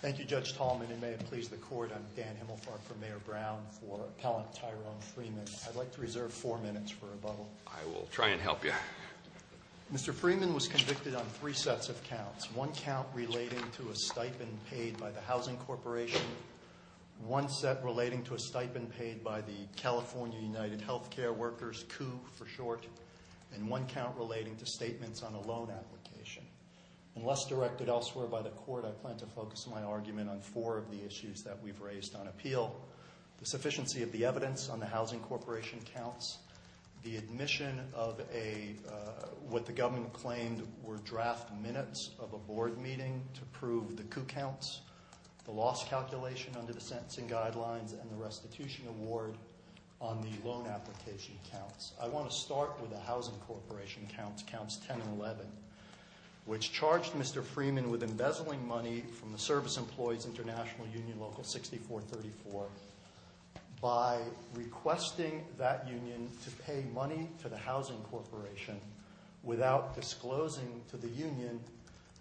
Thank you, Judge Tallman, and may it please the Court, I'm Dan Himmelfarb for Mayor Brown, for Appellant Tyrone Freeman. I'd like to reserve four minutes for rebuttal. I will try and help you. Mr. Freeman was convicted on three sets of counts. One count relating to a stipend paid by the Housing Corporation, one set relating to a stipend paid by the California United Healthcare Workers, CUH for short, and one count relating to statements on a loan application. Unless directed elsewhere by the Court, I plan to focus my argument on four of the issues that we've raised on appeal. The sufficiency of the evidence on the Housing Corporation counts, the admission of what the government claimed were draft minutes of a board meeting to prove the CUH counts, the loss calculation under the sentencing guidelines, and the restitution award on the loan application counts. I want to start with the Housing Corporation counts, counts 10 and 11, which charged Mr. Freeman with embezzling money from the Service Employees International Union Local 6434 by requesting that union to pay money to the Housing Corporation without disclosing to the union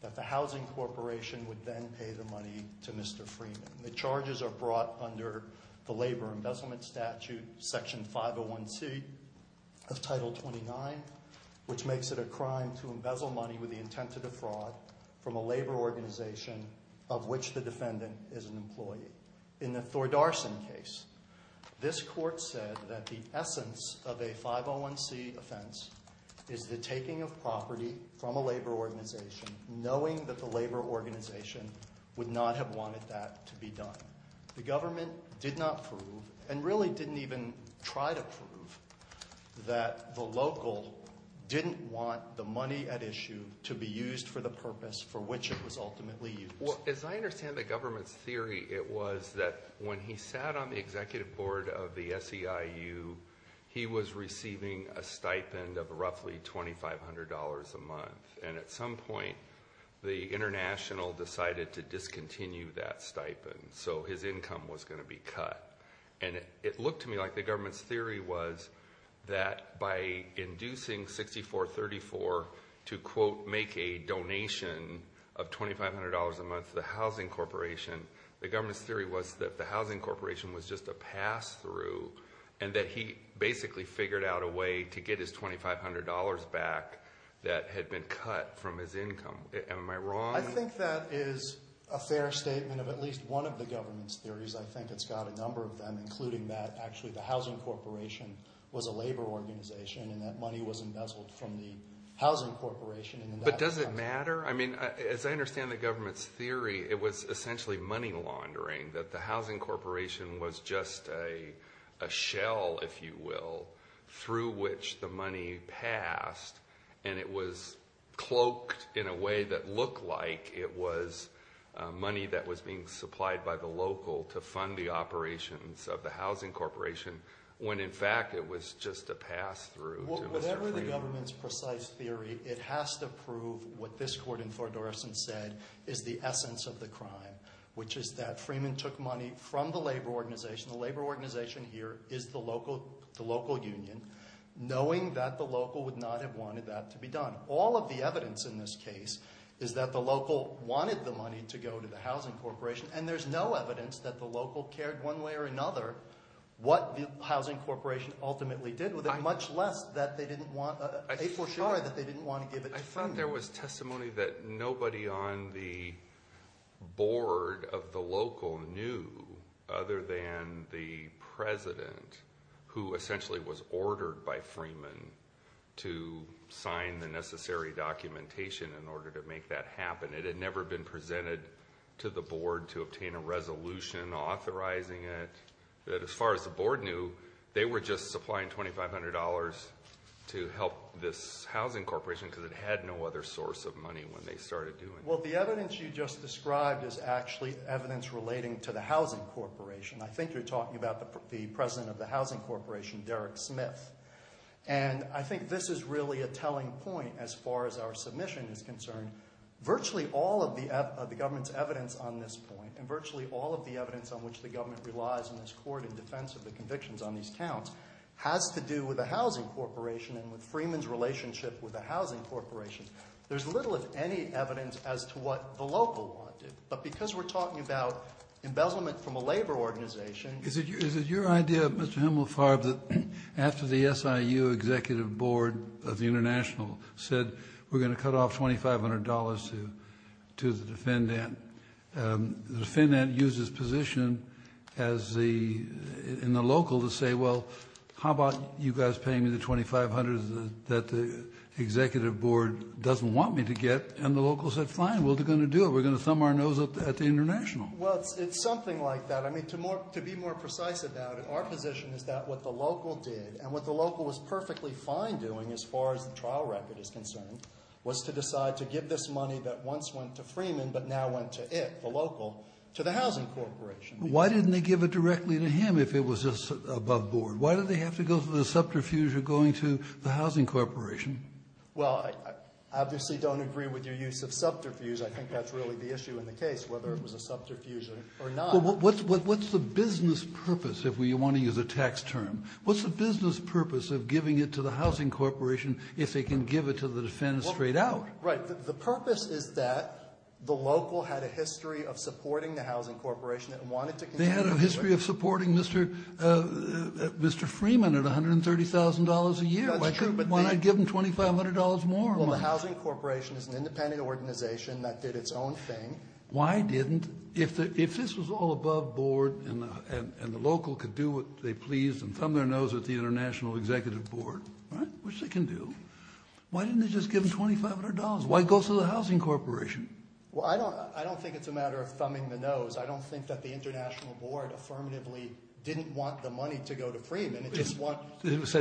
that the Housing Corporation would then pay the money to Mr. Freeman. The charges are brought under the Labor Embezzlement Statute, Section 501C of Title 29, which makes it a crime to embezzle money with the intent to defraud from a labor organization of which the defendant is an employee. In the Thor Darson case, this court said that the essence of a 501C offense is the taking of property from a labor organization knowing that the labor organization would not have wanted that to be done. The government did not prove, and really didn't even try to prove, that the local didn't want the money at issue to be used for the purpose for which it was ultimately used. As I understand the government's theory, it was that when he sat on the executive board of the SEIU, he was receiving a stipend of roughly $2,500 a month. And at some point, the international decided to discontinue that stipend. So his income was going to be cut. And it looked to me like the government's theory was that by inducing 6434 to, quote, make a donation of $2,500 a month to the Housing Corporation, the government's theory was that the Housing Corporation was just a pass-through and that he basically figured out a way to get his $2,500 back that had been cut from his income. Am I wrong? I think that is a fair statement of at least one of the government's theories. I think it's got a number of them, including that actually the Housing Corporation was a labor organization and that money was embezzled from the Housing Corporation. But does it matter? I mean, as I understand the government's theory, it was essentially money laundering, that the Housing Corporation was just a shell, if you will, through which the money passed. And it was cloaked in a way that looked like it was money that was being supplied by the local to fund the operations of the Housing Corporation when, in fact, it was just a pass-through to Mr. Freeman. Whatever the government's precise theory, it has to prove what this court in Thorndorfsen said is the essence of the crime, which is that Freeman took money from the labor organization. The labor organization here is the local union, knowing that the local would not have wanted that to be done. All of the evidence in this case is that the local wanted the money to go to the Housing Corporation, and there's no evidence that the local cared one way or another what the Housing Corporation ultimately did with it, much less that they didn't want to give it to Freeman. I thought there was testimony that nobody on the board of the local knew other than the president, who essentially was ordered by Freeman to sign the necessary documentation in order to make that happen. It had never been presented to the board to obtain a resolution authorizing it. But as far as the board knew, they were just supplying $2,500 to help this Housing Corporation because it had no other source of money when they started doing it. Well, the evidence you just described is actually evidence relating to the Housing Corporation. I think you're talking about the president of the Housing Corporation, Derek Smith. And I think this is really a telling point as far as our submission is concerned. Virtually all of the government's evidence on this point, and virtually all of the evidence on which the government relies in this court in defense of the convictions on these counts, has to do with the Housing Corporation and with Freeman's relationship with the Housing Corporation. There's little, if any, evidence as to what the local wanted. But because we're talking about embezzlement from a labor organization Is it your idea, Mr. Himmelfarb, that after the SIU executive board of the International said, we're going to cut off $2,500 to the defendant? The defendant used his position in the local to say, well, how about you guys paying me the $2,500 that the executive board doesn't want me to get? And the local said, fine, we're going to do it. We're going to thumb our nose up at the International. Well, it's something like that. I mean, to be more precise about it, our position is that what the local did, and what the local was perfectly fine doing as far as the trial record is concerned, was to decide to give this money that once went to Freeman but now went to it, the local, to the Housing Corporation. Why didn't they give it directly to him if it was just above board? Why did they have to go through the subterfuge of going to the Housing Corporation? Well, I obviously don't agree with your use of subterfuge. I think that's really the issue in the case, whether it was a subterfuge or not. What's the business purpose, if we want to use a tax term? What's the business purpose of giving it to the Housing Corporation if they can give it to the defense straight out? Right. The purpose is that the local had a history of supporting the Housing Corporation and wanted to continue it. They had a history of supporting Mr. Freeman at $130,000 a year. That's true. Why not give him $2,500 more? Well, the Housing Corporation is an independent organization that did its own thing. Why didn't, if this was all above board and the local could do what they pleased and thumb their nose at the International Executive Board, which they can do, why didn't they just give him $2,500? Why go through the Housing Corporation? Well, I don't think it's a matter of thumbing the nose. I don't think that the International Board affirmatively didn't want the money to go to Freeman. It said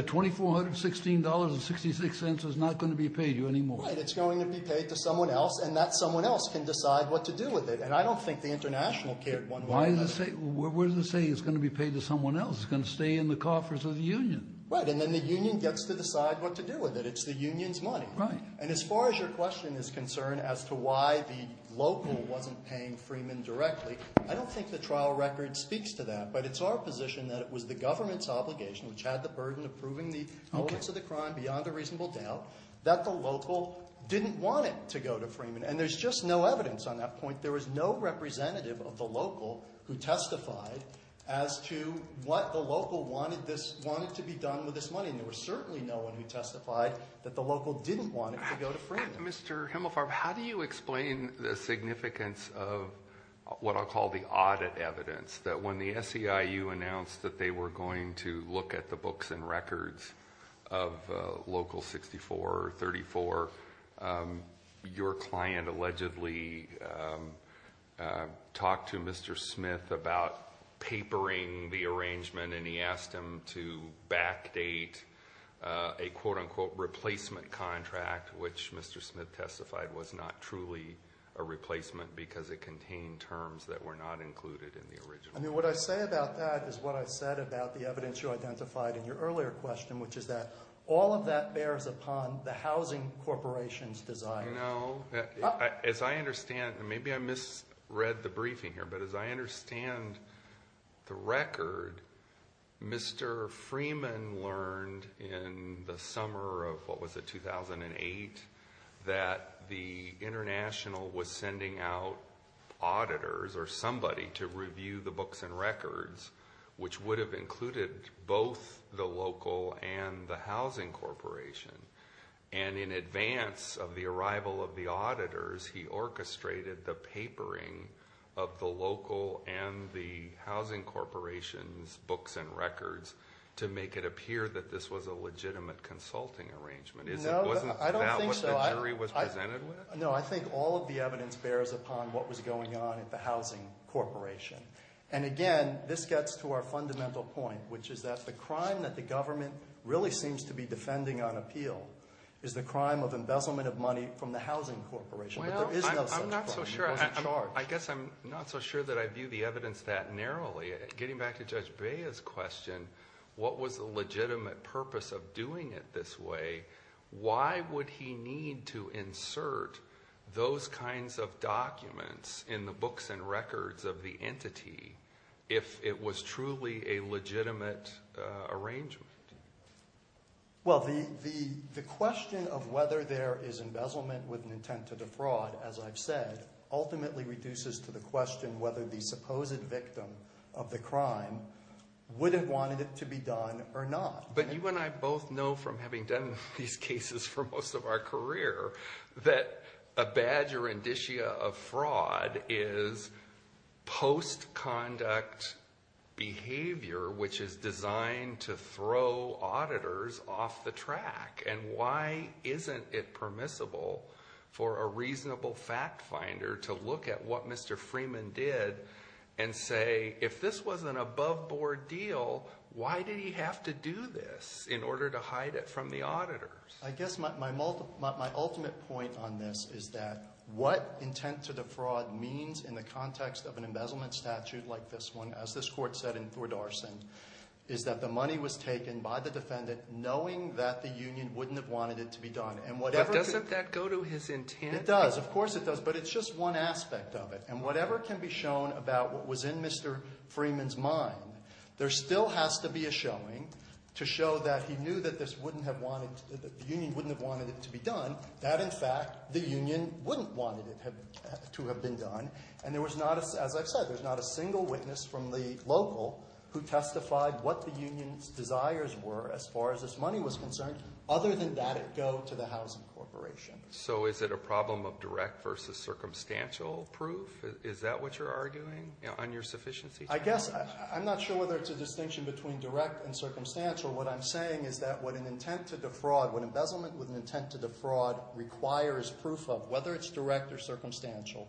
$2,416.66 is not going to be paid to you anymore. Right. It's going to be paid to someone else, and that someone else can decide what to do with it. And I don't think the International cared one way or another. Why is it saying it's going to be paid to someone else? It's going to stay in the coffers of the union. Right. And then the union gets to decide what to do with it. It's the union's money. Right. And as far as your question is concerned as to why the local wasn't paying Freeman directly, I don't think the trial record speaks to that. But it's our position that it was the government's obligation, which had the burden of proving the evidence of the crime beyond a reasonable doubt, that the local didn't want it to go to Freeman. And there's just no evidence on that point. There was no representative of the local who testified as to what the local wanted this to be done with this money. And there was certainly no one who testified that the local didn't want it to go to Freeman. Mr. Himelfarb, how do you explain the significance of what I'll call the audit evidence, that when the SEIU announced that they were going to look at the books and records of Local 64 or 34, your client allegedly talked to Mr. Smith about papering the arrangement, and he asked him to backdate a, quote, unquote, replacement contract, which Mr. Smith testified was not truly a replacement because it contained terms that were not included in the original. I mean, what I say about that is what I said about the evidence you identified in your earlier question, which is that all of that bears upon the housing corporation's desire. No. As I understand, and maybe I misread the briefing here, but as I understand the record, Mr. Freeman learned in the summer of, what was it, 2008, that the international was sending out auditors or somebody to review the books and records, which would have included both the local and the housing corporation. And in advance of the arrival of the auditors, he orchestrated the papering of the local and the housing corporation's books and records to make it appear that this was a legitimate consulting arrangement. No, I don't think so. Was it not what the jury was presented with? No, I think all of the evidence bears upon what was going on at the housing corporation. And again, this gets to our fundamental point, which is that the crime that the government really seems to be defending on appeal is the crime of embezzlement of money from the housing corporation. But there is no such crime. Well, I'm not so sure. It wasn't charged. I guess I'm not so sure that I view the evidence that narrowly. Getting back to Judge Bea's question, what was the legitimate purpose of doing it this way? Why would he need to insert those kinds of documents in the books and records of the entity if it was truly a legitimate arrangement? Well, the question of whether there is embezzlement with an intent to defraud, as I've said, ultimately reduces to the question whether the supposed victim of the crime would have wanted it to be done or not. But you and I both know from having done these cases for most of our career that a badger indicia of fraud is post-conduct behavior, which is designed to throw auditors off the track. And why isn't it permissible for a reasonable fact finder to look at what Mr. Freeman did and say, if this was an above-board deal, why did he have to do this in order to hide it from the auditors? I guess my ultimate point on this is that what intent to defraud means in the context of an embezzlement statute like this one, as this Court said in Thordarson, is that the money was taken by the defendant knowing that the union wouldn't have wanted it to be done. Doesn't that go to his intent? It does. Of course it does. But it's just one aspect of it. And whatever can be shown about what was in Mr. Freeman's mind, there still has to be a showing to show that he knew that the union wouldn't have wanted it to be done, that, in fact, the union wouldn't have wanted it to have been done. And there was not, as I've said, there's not a single witness from the local who testified what the union's desires were as far as this money was concerned. Other than that, it go to the housing corporation. So is it a problem of direct versus circumstantial proof? Is that what you're arguing on your sufficiency charge? I guess. I'm not sure whether it's a distinction between direct and circumstantial. What I'm saying is that what an intent to defraud, what embezzlement with an intent to defraud requires proof of, whether it's direct or circumstantial,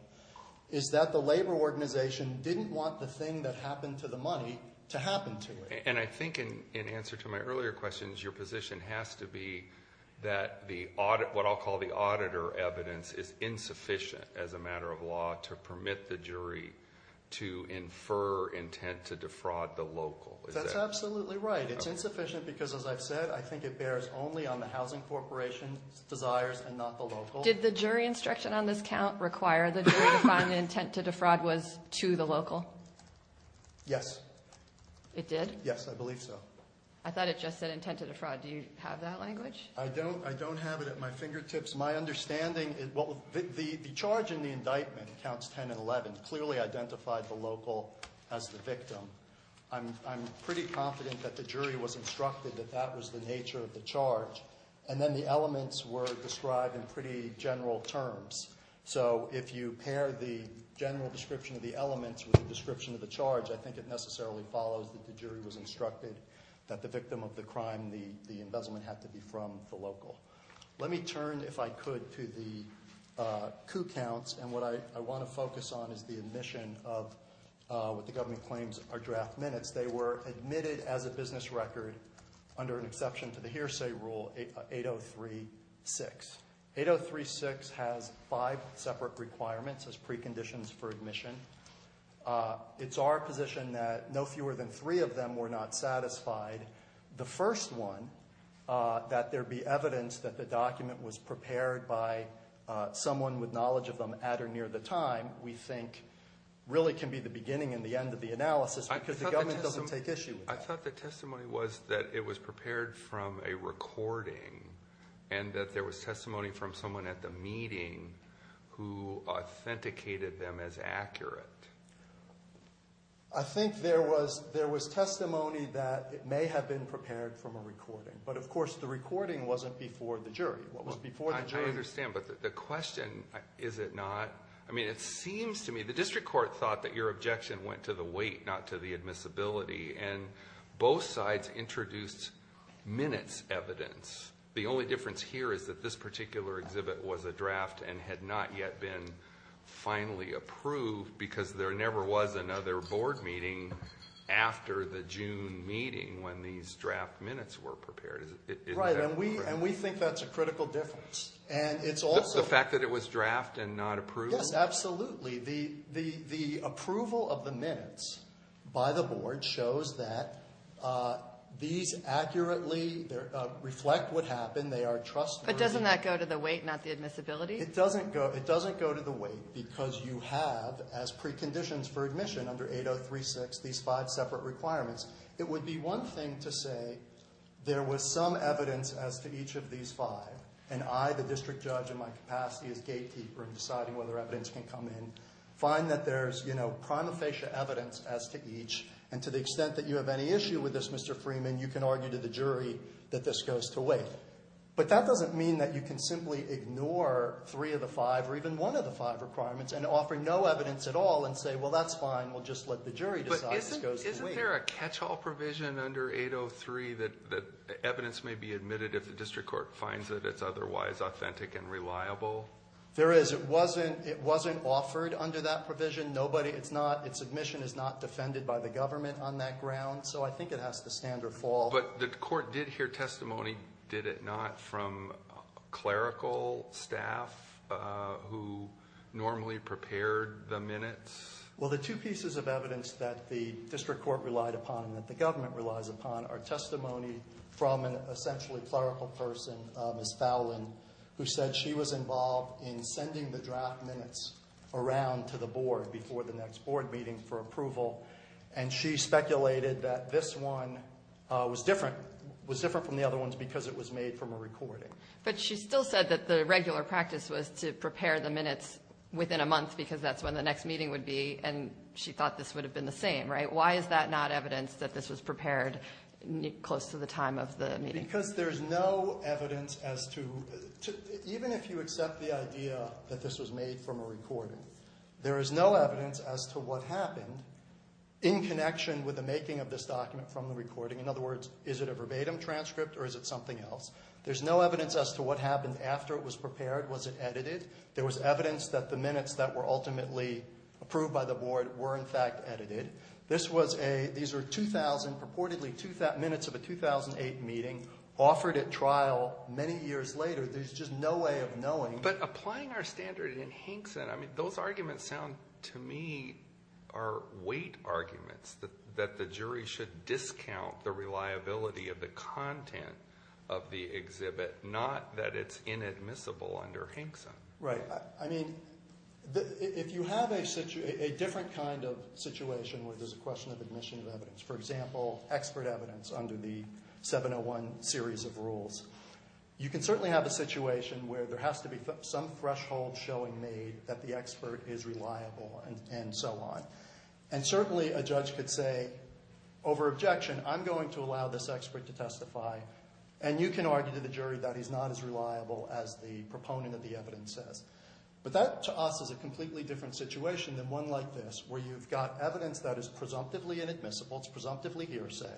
is that the labor organization didn't want the thing that happened to the money to happen to it. And I think in answer to my earlier questions, your position has to be that what I'll call the auditor evidence is insufficient as a matter of law to permit the jury to infer intent to defraud the local. That's absolutely right. It's insufficient because, as I've said, I think it bears only on the housing corporation's desires and not the local. Did the jury instruction on this count require the jury to find the intent to defraud was to the local? Yes. It did? Yes, I believe so. I thought it just said intent to defraud. Do you have that language? I don't. I don't have it at my fingertips. My understanding is the charge in the indictment, counts 10 and 11, clearly identified the local as the victim. I'm pretty confident that the jury was instructed that that was the nature of the charge. And then the elements were described in pretty general terms. So if you pair the general description of the elements with the description of the charge, I think it necessarily follows that the jury was instructed that the victim of the crime, the embezzlement, had to be from the local. Let me turn, if I could, to the coup counts. And what I want to focus on is the admission of what the government claims are draft minutes. They were admitted as a business record under an exception to the hearsay rule, 803-6. 803-6 has five separate requirements as preconditions for admission. It's our position that no fewer than three of them were not satisfied. The first one, that there be evidence that the document was prepared by someone with knowledge of them at or near the time, we think really can be the beginning and the end of the analysis. Because the government doesn't take issue with that. I thought the testimony was that it was prepared from a recording, and that there was testimony from someone at the meeting who authenticated them as accurate. I think there was testimony that it may have been prepared from a recording. But, of course, the recording wasn't before the jury. What was before the jury— I understand. But the question, is it not—I mean, it seems to me— your objection went to the weight, not to the admissibility. And both sides introduced minutes evidence. The only difference here is that this particular exhibit was a draft and had not yet been finally approved because there never was another board meeting after the June meeting when these draft minutes were prepared. Right, and we think that's a critical difference. The fact that it was draft and not approved? Yes, absolutely. The approval of the minutes by the board shows that these accurately reflect what happened. They are trustworthy. But doesn't that go to the weight, not the admissibility? It doesn't go to the weight because you have, as preconditions for admission under 8036, these five separate requirements. It would be one thing to say there was some evidence as to each of these five, and I, the district judge, in my capacity as gatekeeper in deciding whether evidence can come in, find that there's, you know, prima facie evidence as to each, and to the extent that you have any issue with this, Mr. Freeman, you can argue to the jury that this goes to weight. But that doesn't mean that you can simply ignore three of the five or even one of the five requirements and offer no evidence at all and say, well, that's fine, we'll just let the jury decide this goes to weight. Isn't there a catch-all provision under 803 that evidence may be admitted if the district court finds that it's otherwise authentic and reliable? There is. It wasn't offered under that provision. Nobody, it's not, its admission is not defended by the government on that ground, so I think it has to stand or fall. But the court did hear testimony, did it not, from clerical staff who normally prepared the minutes? Well, the two pieces of evidence that the district court relied upon and that the government relies upon are testimony from an essentially clerical person, Miss Fowlin, who said she was involved in sending the draft minutes around to the board before the next board meeting for approval, and she speculated that this one was different from the other ones because it was made from a recording. But she still said that the regular practice was to prepare the minutes within a month because that's when the next meeting would be, and she thought this would have been the same, right? Why is that not evidence that this was prepared close to the time of the meeting? Because there's no evidence as to, even if you accept the idea that this was made from a recording, there is no evidence as to what happened in connection with the making of this document from the recording. In other words, is it a verbatim transcript or is it something else? There's no evidence as to what happened after it was prepared. Was it edited? There was evidence that the minutes that were ultimately approved by the board were, in fact, edited. These were purportedly minutes of a 2008 meeting offered at trial many years later. There's just no way of knowing. But applying our standard in Hinkson, I mean, those arguments sound to me are weight arguments, that the jury should discount the reliability of the content of the exhibit, not that it's inadmissible under Hinkson. Right. I mean, if you have a different kind of situation where there's a question of admission of evidence, for example, expert evidence under the 701 series of rules, you can certainly have a situation where there has to be some threshold showing me that the expert is reliable and so on. And certainly a judge could say, over objection, I'm going to allow this expert to testify. And you can argue to the jury that he's not as reliable as the proponent of the evidence says. But that, to us, is a completely different situation than one like this, where you've got evidence that is presumptively inadmissible, it's presumptively hearsay.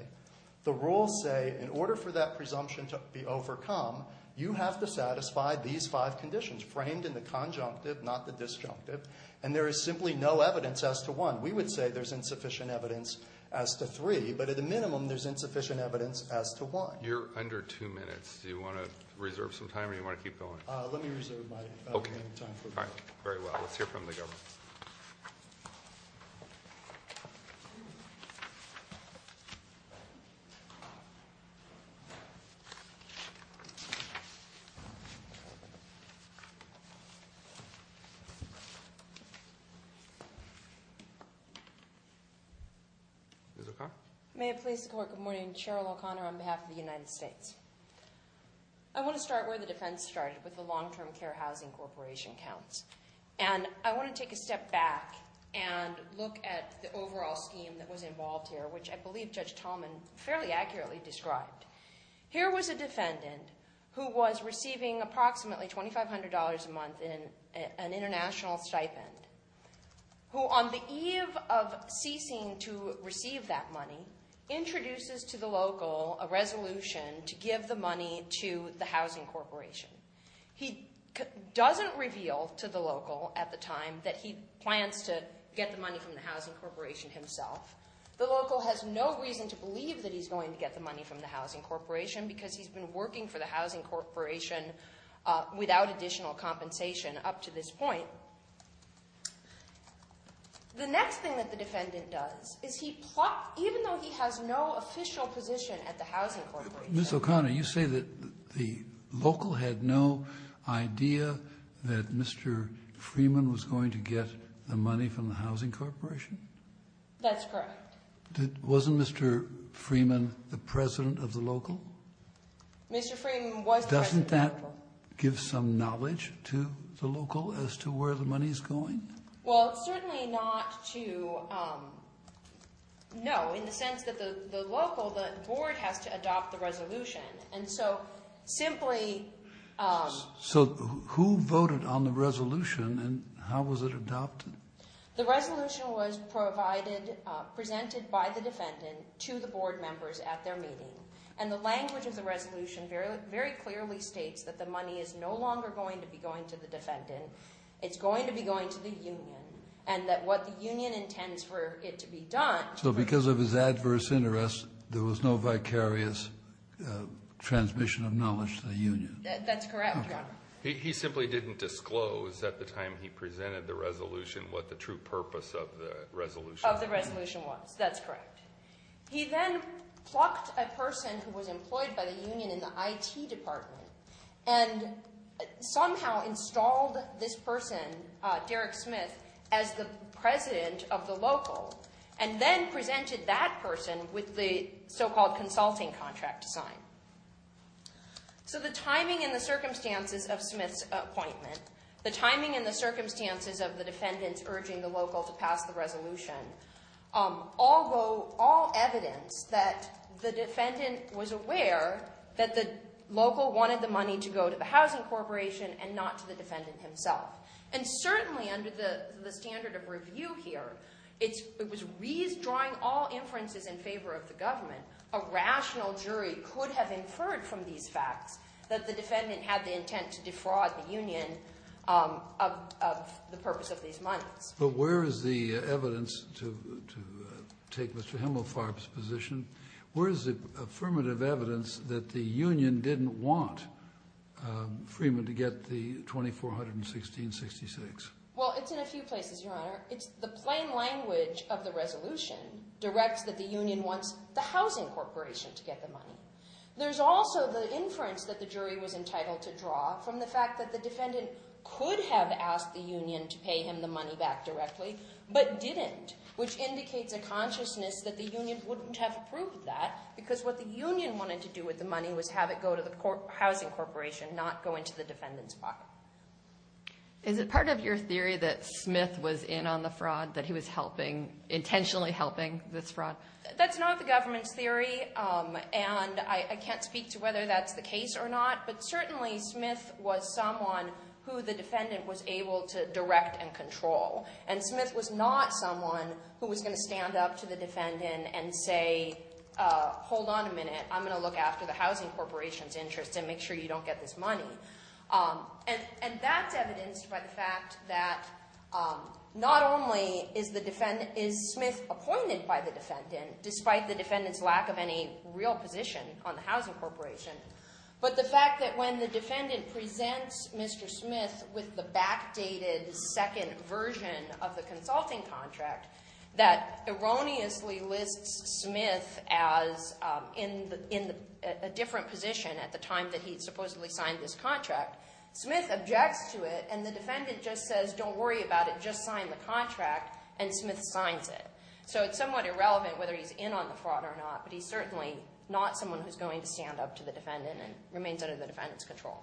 The rules say, in order for that presumption to be overcome, you have to satisfy these five conditions, framed in the conjunctive, not the disjunctive. And there is simply no evidence as to one. We would say there's insufficient evidence as to three. But at a minimum, there's insufficient evidence as to one. You're under two minutes. Do you want to reserve some time or do you want to keep going? Let me reserve my time. Okay. Very well. Let's hear from the government. Ms. O'Connor. May it please the Court, good morning. Cheryl O'Connor on behalf of the United States. I want to start where the defense started, with the long-term care housing corporation counts. And I want to take a step back and look at the overall scheme that was involved here, which I believe Judge Tallman fairly accurately described. Here was a defendant who was receiving approximately $2,500 a month in an international stipend, who on the eve of ceasing to receive that money, introduces to the local a resolution to give the money to the housing corporation. He doesn't reveal to the local at the time that he plans to get the money from the housing corporation himself. The local has no reason to believe that he's going to get the money from the housing corporation because he's been working for the housing corporation without additional compensation up to this point. The next thing that the defendant does is he plots, even though he has no official position at the housing corporation. Mr. O'Connor, you say that the local had no idea that Mr. Freeman was going to get the money from the housing corporation? That's correct. Wasn't Mr. Freeman the president of the local? Mr. Freeman was the president of the local. Doesn't that give some knowledge to the local as to where the money is going? Well, certainly not to, no, in the sense that the local, the board has to adopt the resolution. And so simply- So who voted on the resolution and how was it adopted? The resolution was provided, presented by the defendant to the board members at their meeting. And the language of the resolution very clearly states that the money is no longer going to be going to the defendant. It's going to be going to the union and that what the union intends for it to be done- So because of his adverse interests, there was no vicarious transmission of knowledge to the union. That's correct, Your Honor. He simply didn't disclose at the time he presented the resolution what the true purpose of the resolution- Of the resolution was. That's correct. He then plucked a person who was employed by the union in the IT department and somehow installed this person, Derek Smith, as the president of the local and then presented that person with the so-called consulting contract to sign. So the timing and the circumstances of Smith's appointment, the timing and the circumstances of the defendants urging the local to pass the resolution, all evidence that the defendant was aware that the local wanted the money to go to the housing corporation and not to the defendant himself. And certainly under the standard of review here, it was redrawing all inferences in favor of the government. A rational jury could have inferred from these facts that the defendant had the intent to defraud the union of the purpose of these monies. But where is the evidence to take Mr. Hemelfarb's position? Where is the affirmative evidence that the union didn't want Freeman to get the $2,416.66? Well, it's in a few places, Your Honor. It's the plain language of the resolution directs that the union wants the housing corporation to get the money. There's also the inference that the jury was entitled to draw from the fact that the defendant could have asked the union to pay him the money back directly but didn't, which indicates a consciousness that the union wouldn't have approved that because what the union wanted to do with the money was have it go to the housing corporation, not go into the defendant's pocket. Is it part of your theory that Smith was in on the fraud, that he was helping, intentionally helping this fraud? That's not the government's theory, and I can't speak to whether that's the case or not. But certainly Smith was someone who the defendant was able to direct and control, and Smith was not someone who was going to stand up to the defendant and say, hold on a minute, I'm going to look after the housing corporation's interests and make sure you don't get this money. And that's evidenced by the fact that not only is Smith appointed by the defendant, despite the defendant's lack of any real position on the housing corporation, but the fact that when the defendant presents Mr. Smith with the backdated second version of the consulting contract that erroneously lists Smith as in a different position at the time that he supposedly signed this contract, Smith objects to it and the defendant just says, don't worry about it, just sign the contract, and Smith signs it. So it's somewhat irrelevant whether he's in on the fraud or not, but he's certainly not someone who's going to stand up to the defendant and remains under the defendant's control.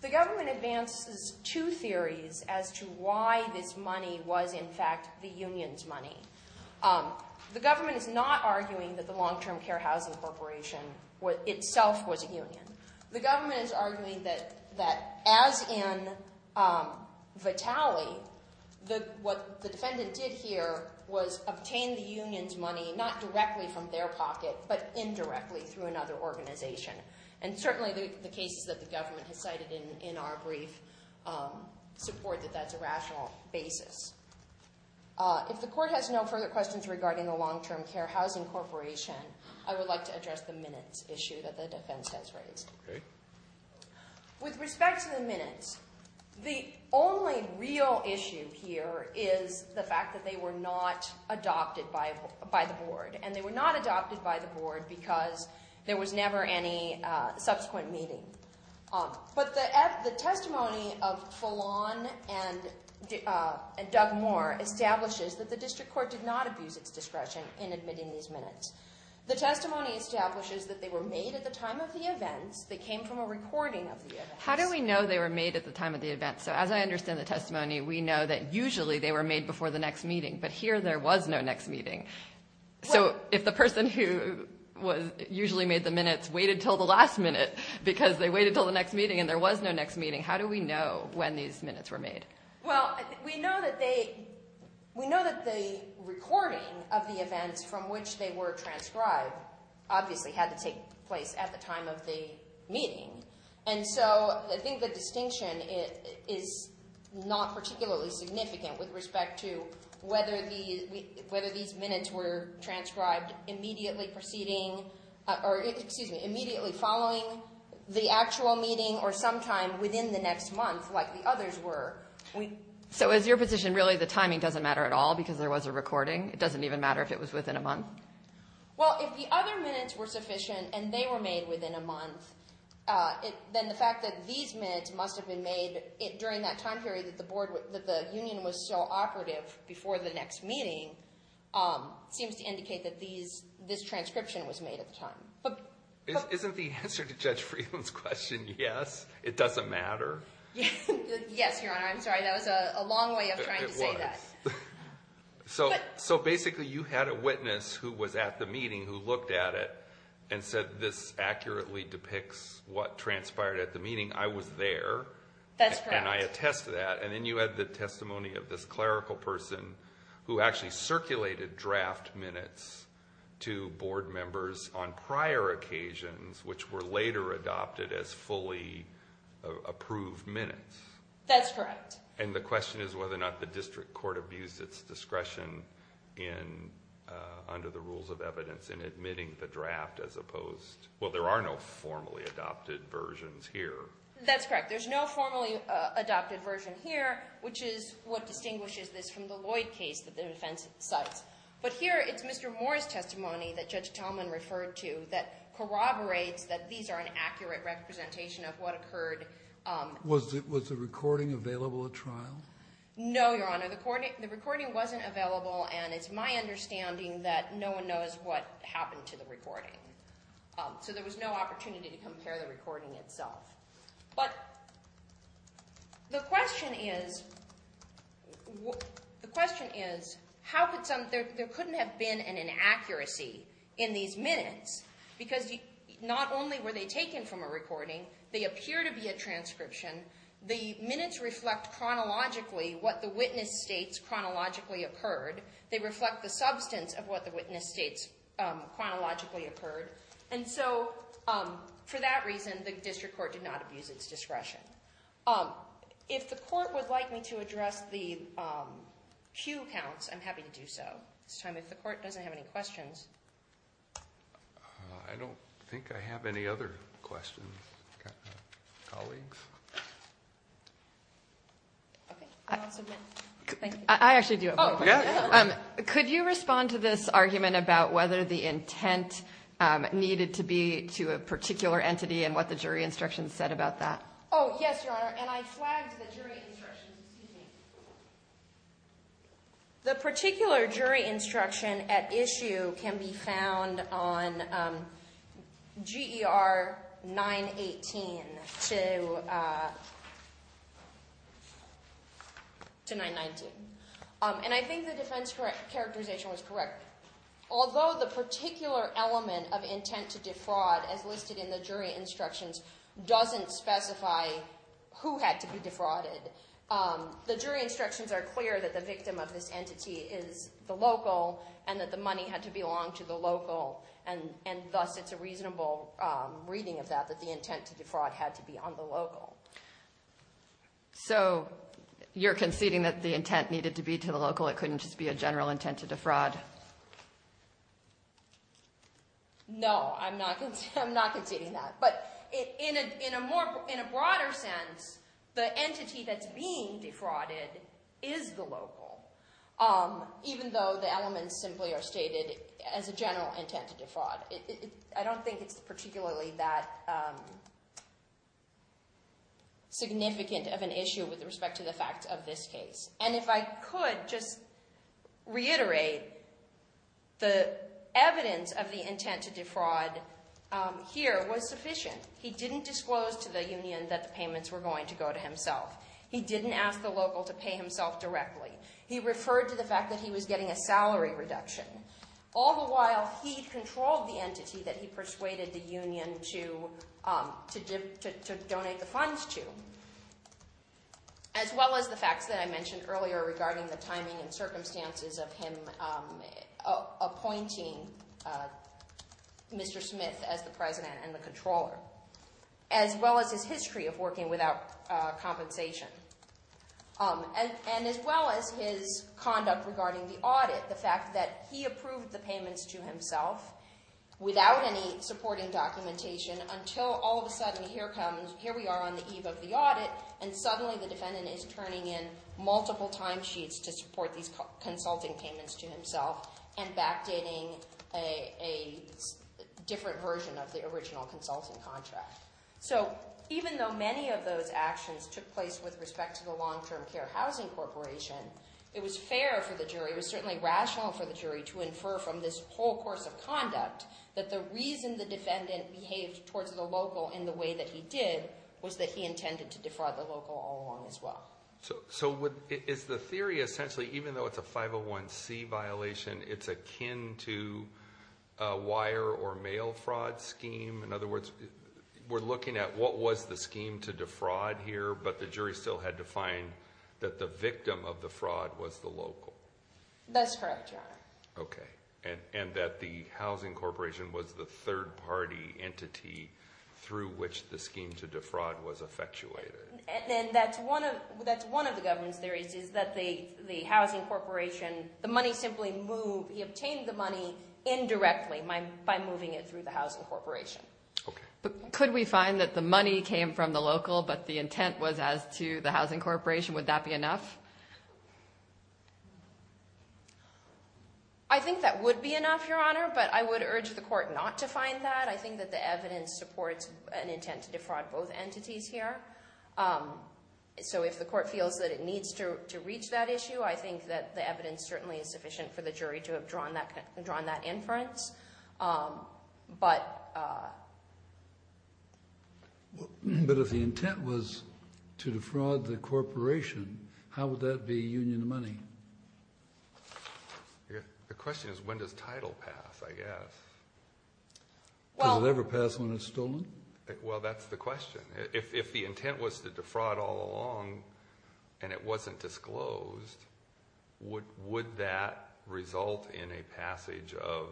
The government advances two theories as to why this money was in fact the union's money. The government is not arguing that the long-term care housing corporation itself was a union. The government is arguing that as in Vitale, what the defendant did here was obtain the union's money, not directly from their pocket, but indirectly through another organization. And certainly the cases that the government has cited in our brief support that that's a rational basis. If the court has no further questions regarding the long-term care housing corporation, I would like to address the minutes issue that the defense has raised. Okay. With respect to the minutes, the only real issue here is the fact that they were not adopted by the board, and they were not adopted by the board because there was never any subsequent meeting. But the testimony of Fallon and Doug Moore establishes that the district court did not abuse its discretion in admitting these minutes. The testimony establishes that they were made at the time of the events. They came from a recording of the events. How do we know they were made at the time of the events? So as I understand the testimony, we know that usually they were made before the next meeting. But here there was no next meeting. So if the person who usually made the minutes waited until the last minute because they waited until the next meeting and there was no next meeting, how do we know when these minutes were made? Well, we know that the recording of the events from which they were transcribed obviously had to take place at the time of the meeting. And so I think the distinction is not particularly significant with respect to whether these minutes were transcribed immediately preceding or, excuse me, immediately following the actual meeting or sometime within the next month like the others were. So is your position really the timing doesn't matter at all because there was a recording? It doesn't even matter if it was within a month? Well, if the other minutes were sufficient and they were made within a month, then the fact that these minutes must have been made during that time period that the union was so operative before the next meeting seems to indicate that this transcription was made at the time. Isn't the answer to Judge Freeland's question yes, it doesn't matter? Yes, Your Honor. I'm sorry. That was a long way of trying to say that. So basically you had a witness who was at the meeting who looked at it and said this accurately depicts what transpired at the meeting. I was there. That's correct. And I attest to that. And then you had the testimony of this clerical person who actually circulated draft minutes to board members on prior occasions which were later adopted as fully approved minutes. That's correct. And the question is whether or not the district court abused its discretion under the rules of evidence in admitting the draft as opposed to, well, there are no formally adopted versions here. That's correct. There's no formally adopted version here, which is what distinguishes this from the Lloyd case that the defense cites. But here it's Mr. Moore's testimony that Judge Tallman referred to that corroborates that these are an accurate representation of what occurred. Was the recording available at trial? No, Your Honor. The recording wasn't available. And it's my understanding that no one knows what happened to the recording. So there was no opportunity to compare the recording itself. But the question is, the question is how could some — there couldn't have been an inaccuracy in these minutes because not only were they taken from a recording, they appear to be a transcription. The minutes reflect chronologically what the witness states chronologically occurred. They reflect the substance of what the witness states chronologically occurred. And so for that reason, the district court did not abuse its discretion. If the court would like me to address the cue counts, I'm happy to do so. This time if the court doesn't have any questions. I don't think I have any other questions. Colleagues? Okay. I actually do have one question. Could you respond to this argument about whether the intent needed to be to a particular entity and what the jury instructions said about that? Oh, yes, Your Honor. And I flagged the jury instructions. Excuse me. The particular jury instruction at issue can be found on GER 918 to 919. And I think the defense characterization was correct. Although the particular element of intent to defraud as listed in the jury instructions doesn't specify who had to be defrauded. The jury instructions are clear that the victim of this entity is the local and that the money had to belong to the local. And thus it's a reasonable reading of that, that the intent to defraud had to be on the local. So you're conceding that the intent needed to be to the local. It couldn't just be a general intent to defraud? No, I'm not conceding that. But in a broader sense, the entity that's being defrauded is the local. Even though the elements simply are stated as a general intent to defraud. I don't think it's particularly that significant of an issue with respect to the fact of this case. And if I could just reiterate, the evidence of the intent to defraud here was sufficient. He didn't disclose to the union that the payments were going to go to himself. He didn't ask the local to pay himself directly. He referred to the fact that he was getting a salary reduction. All the while he controlled the entity that he persuaded the union to donate the funds to. As well as the facts that I mentioned earlier regarding the timing and circumstances of him appointing Mr. Smith as the president and the controller. As well as his history of working without compensation. And as well as his conduct regarding the audit. The fact that he approved the payments to himself without any supporting documentation. Until all of a sudden, here we are on the eve of the audit. And suddenly the defendant is turning in multiple timesheets to support these consulting payments to himself. And backdating a different version of the original consulting contract. So even though many of those actions took place with respect to the Long Term Care Housing Corporation. It was fair for the jury. It was certainly rational for the jury to infer from this whole course of conduct. That the reason the defendant behaved towards the local in the way that he did. Was that he intended to defraud the local all along as well. So is the theory essentially, even though it's a 501c violation. It's akin to a wire or mail fraud scheme? In other words, we're looking at what was the scheme to defraud here. But the jury still had to find that the victim of the fraud was the local. That's correct, your honor. And that the housing corporation was the third party entity through which the scheme to defraud was effectuated. And that's one of the government's theories. Is that the housing corporation, the money simply moved. He obtained the money indirectly by moving it through the housing corporation. Could we find that the money came from the local but the intent was as to the housing corporation? Would that be enough? I think that would be enough, your honor. But I would urge the court not to find that. I think that the evidence supports an intent to defraud both entities here. So if the court feels that it needs to reach that issue, I think that the evidence certainly is sufficient for the jury to have drawn that inference. But if the intent was to defraud the corporation, how would that be union money? The question is when does title pass, I guess? Does it ever pass when it's stolen? Well, that's the question. If the intent was to defraud all along and it wasn't disclosed, would that result in a passage of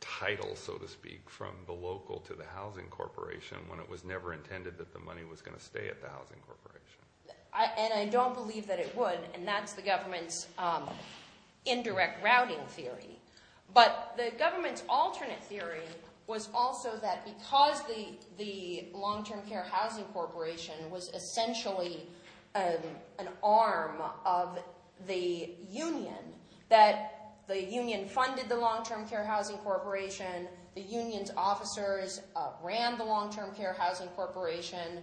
title, so to speak, from the local to the housing corporation when it was never intended that the money was going to stay at the housing corporation? And I don't believe that it would, and that's the government's indirect routing theory. But the government's alternate theory was also that because the Long-Term Care Housing Corporation was essentially an arm of the union, that the union funded the Long-Term Care Housing Corporation, the union's officers ran the Long-Term Care Housing Corporation,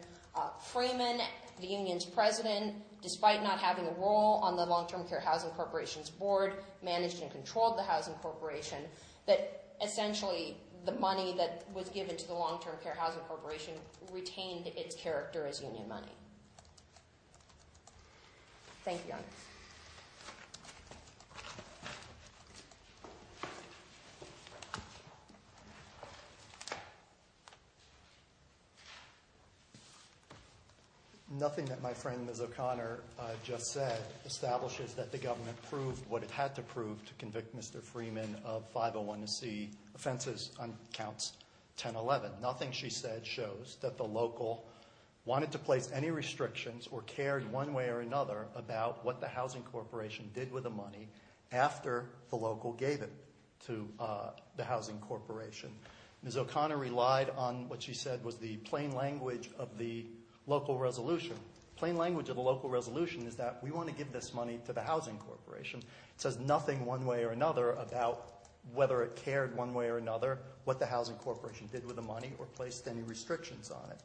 Freeman, the union's president, despite not having a role on the Long-Term Care Housing Corporation's board, managed and controlled the housing corporation, that essentially the money that was given to the Long-Term Care Housing Corporation retained its character as union money. Thank you, Your Honor. Nothing that my friend Ms. O'Connor just said establishes that the government proved what it had to prove to convict Mr. Freeman of 501C offenses on Counts 1011. Nothing she said shows that the local wanted to place any restrictions or cared one way or another about what the housing corporation did with the money after the local gave it to the housing corporation. Ms. O'Connor relied on what she said was the plain language of the local resolution. The plain language of the local resolution is that we want to give this money to the housing corporation. It says nothing one way or another about whether it cared one way or another what the housing corporation did with the money or placed any restrictions on it.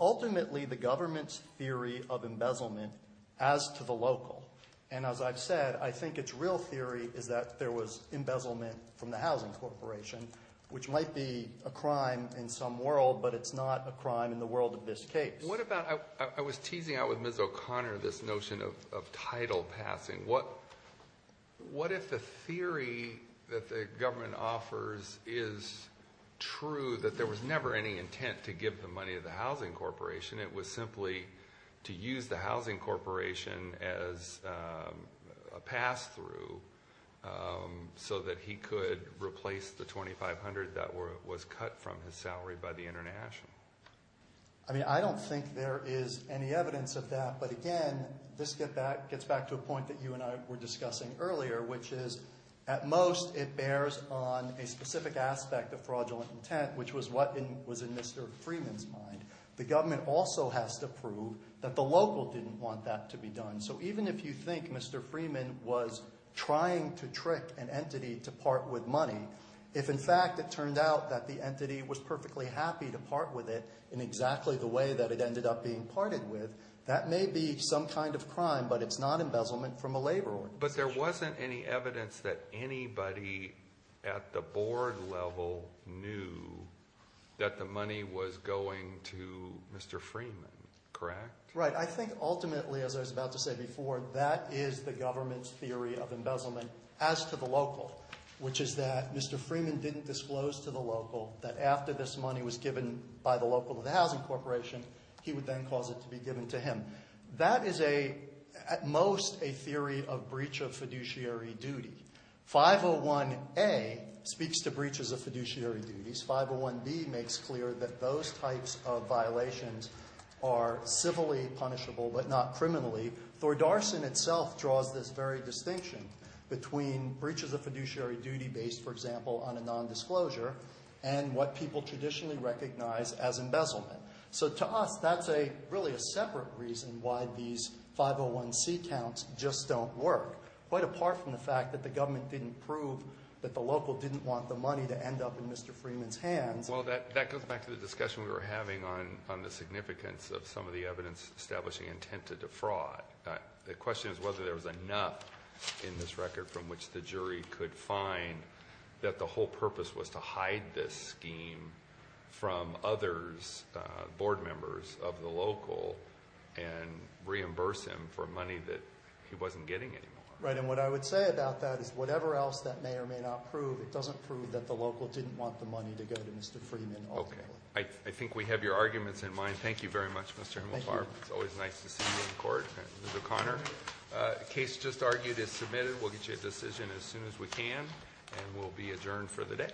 Ultimately, the government's theory of embezzlement as to the local, and as I've said, I think its real theory is that there was embezzlement from the housing corporation, which might be a crime in some world, but it's not a crime in the world of this case. What about, I was teasing out with Ms. O'Connor this notion of title passing. What if the theory that the government offers is true, that there was never any intent to give the money to the housing corporation, it was simply to use the housing corporation as a pass-through so that he could replace the $2,500 that was cut from his salary by the international? I mean, I don't think there is any evidence of that. But again, this gets back to a point that you and I were discussing earlier, which is at most it bears on a specific aspect of fraudulent intent, which was what was in Mr. Freeman's mind. The government also has to prove that the local didn't want that to be done. So even if you think Mr. Freeman was trying to trick an entity to part with money, if in fact it turned out that the entity was perfectly happy to part with it in exactly the way that it ended up being parted with, that may be some kind of crime, but it's not embezzlement from a labor organization. But there wasn't any evidence that anybody at the board level knew that the money was going to Mr. Freeman, correct? Right. I think ultimately, as I was about to say before, that is the government's theory of embezzlement as to the local, which is that Mr. Freeman didn't disclose to the local that after this money was given by the local to the housing corporation, he would then cause it to be given to him. That is at most a theory of breach of fiduciary duty. 501A speaks to breaches of fiduciary duties. 501B makes clear that those types of violations are civilly punishable but not criminally. Thor Darson itself draws this very distinction between breaches of fiduciary duty based, for example, on a nondisclosure and what people traditionally recognize as embezzlement. So to us, that's really a separate reason why these 501C counts just don't work, quite apart from the fact that the government didn't prove that the local didn't want the money to end up in Mr. Freeman's hands. Well, that goes back to the discussion we were having on the significance of some of the evidence establishing intent to defraud. The question is whether there was enough in this record from which the jury could find that the whole purpose was to hide this scheme from others, board members of the local, and reimburse him for money that he wasn't getting anymore. Right, and what I would say about that is whatever else that may or may not prove, it doesn't prove that the local didn't want the money to go to Mr. Freeman ultimately. Okay. I think we have your arguments in mind. Thank you very much, Mr. Himmelfarb. Thank you. It's always nice to see you in court. Ms. O'Connor, the case just argued is submitted. We'll get you a decision as soon as we can, and we'll be adjourned for the day.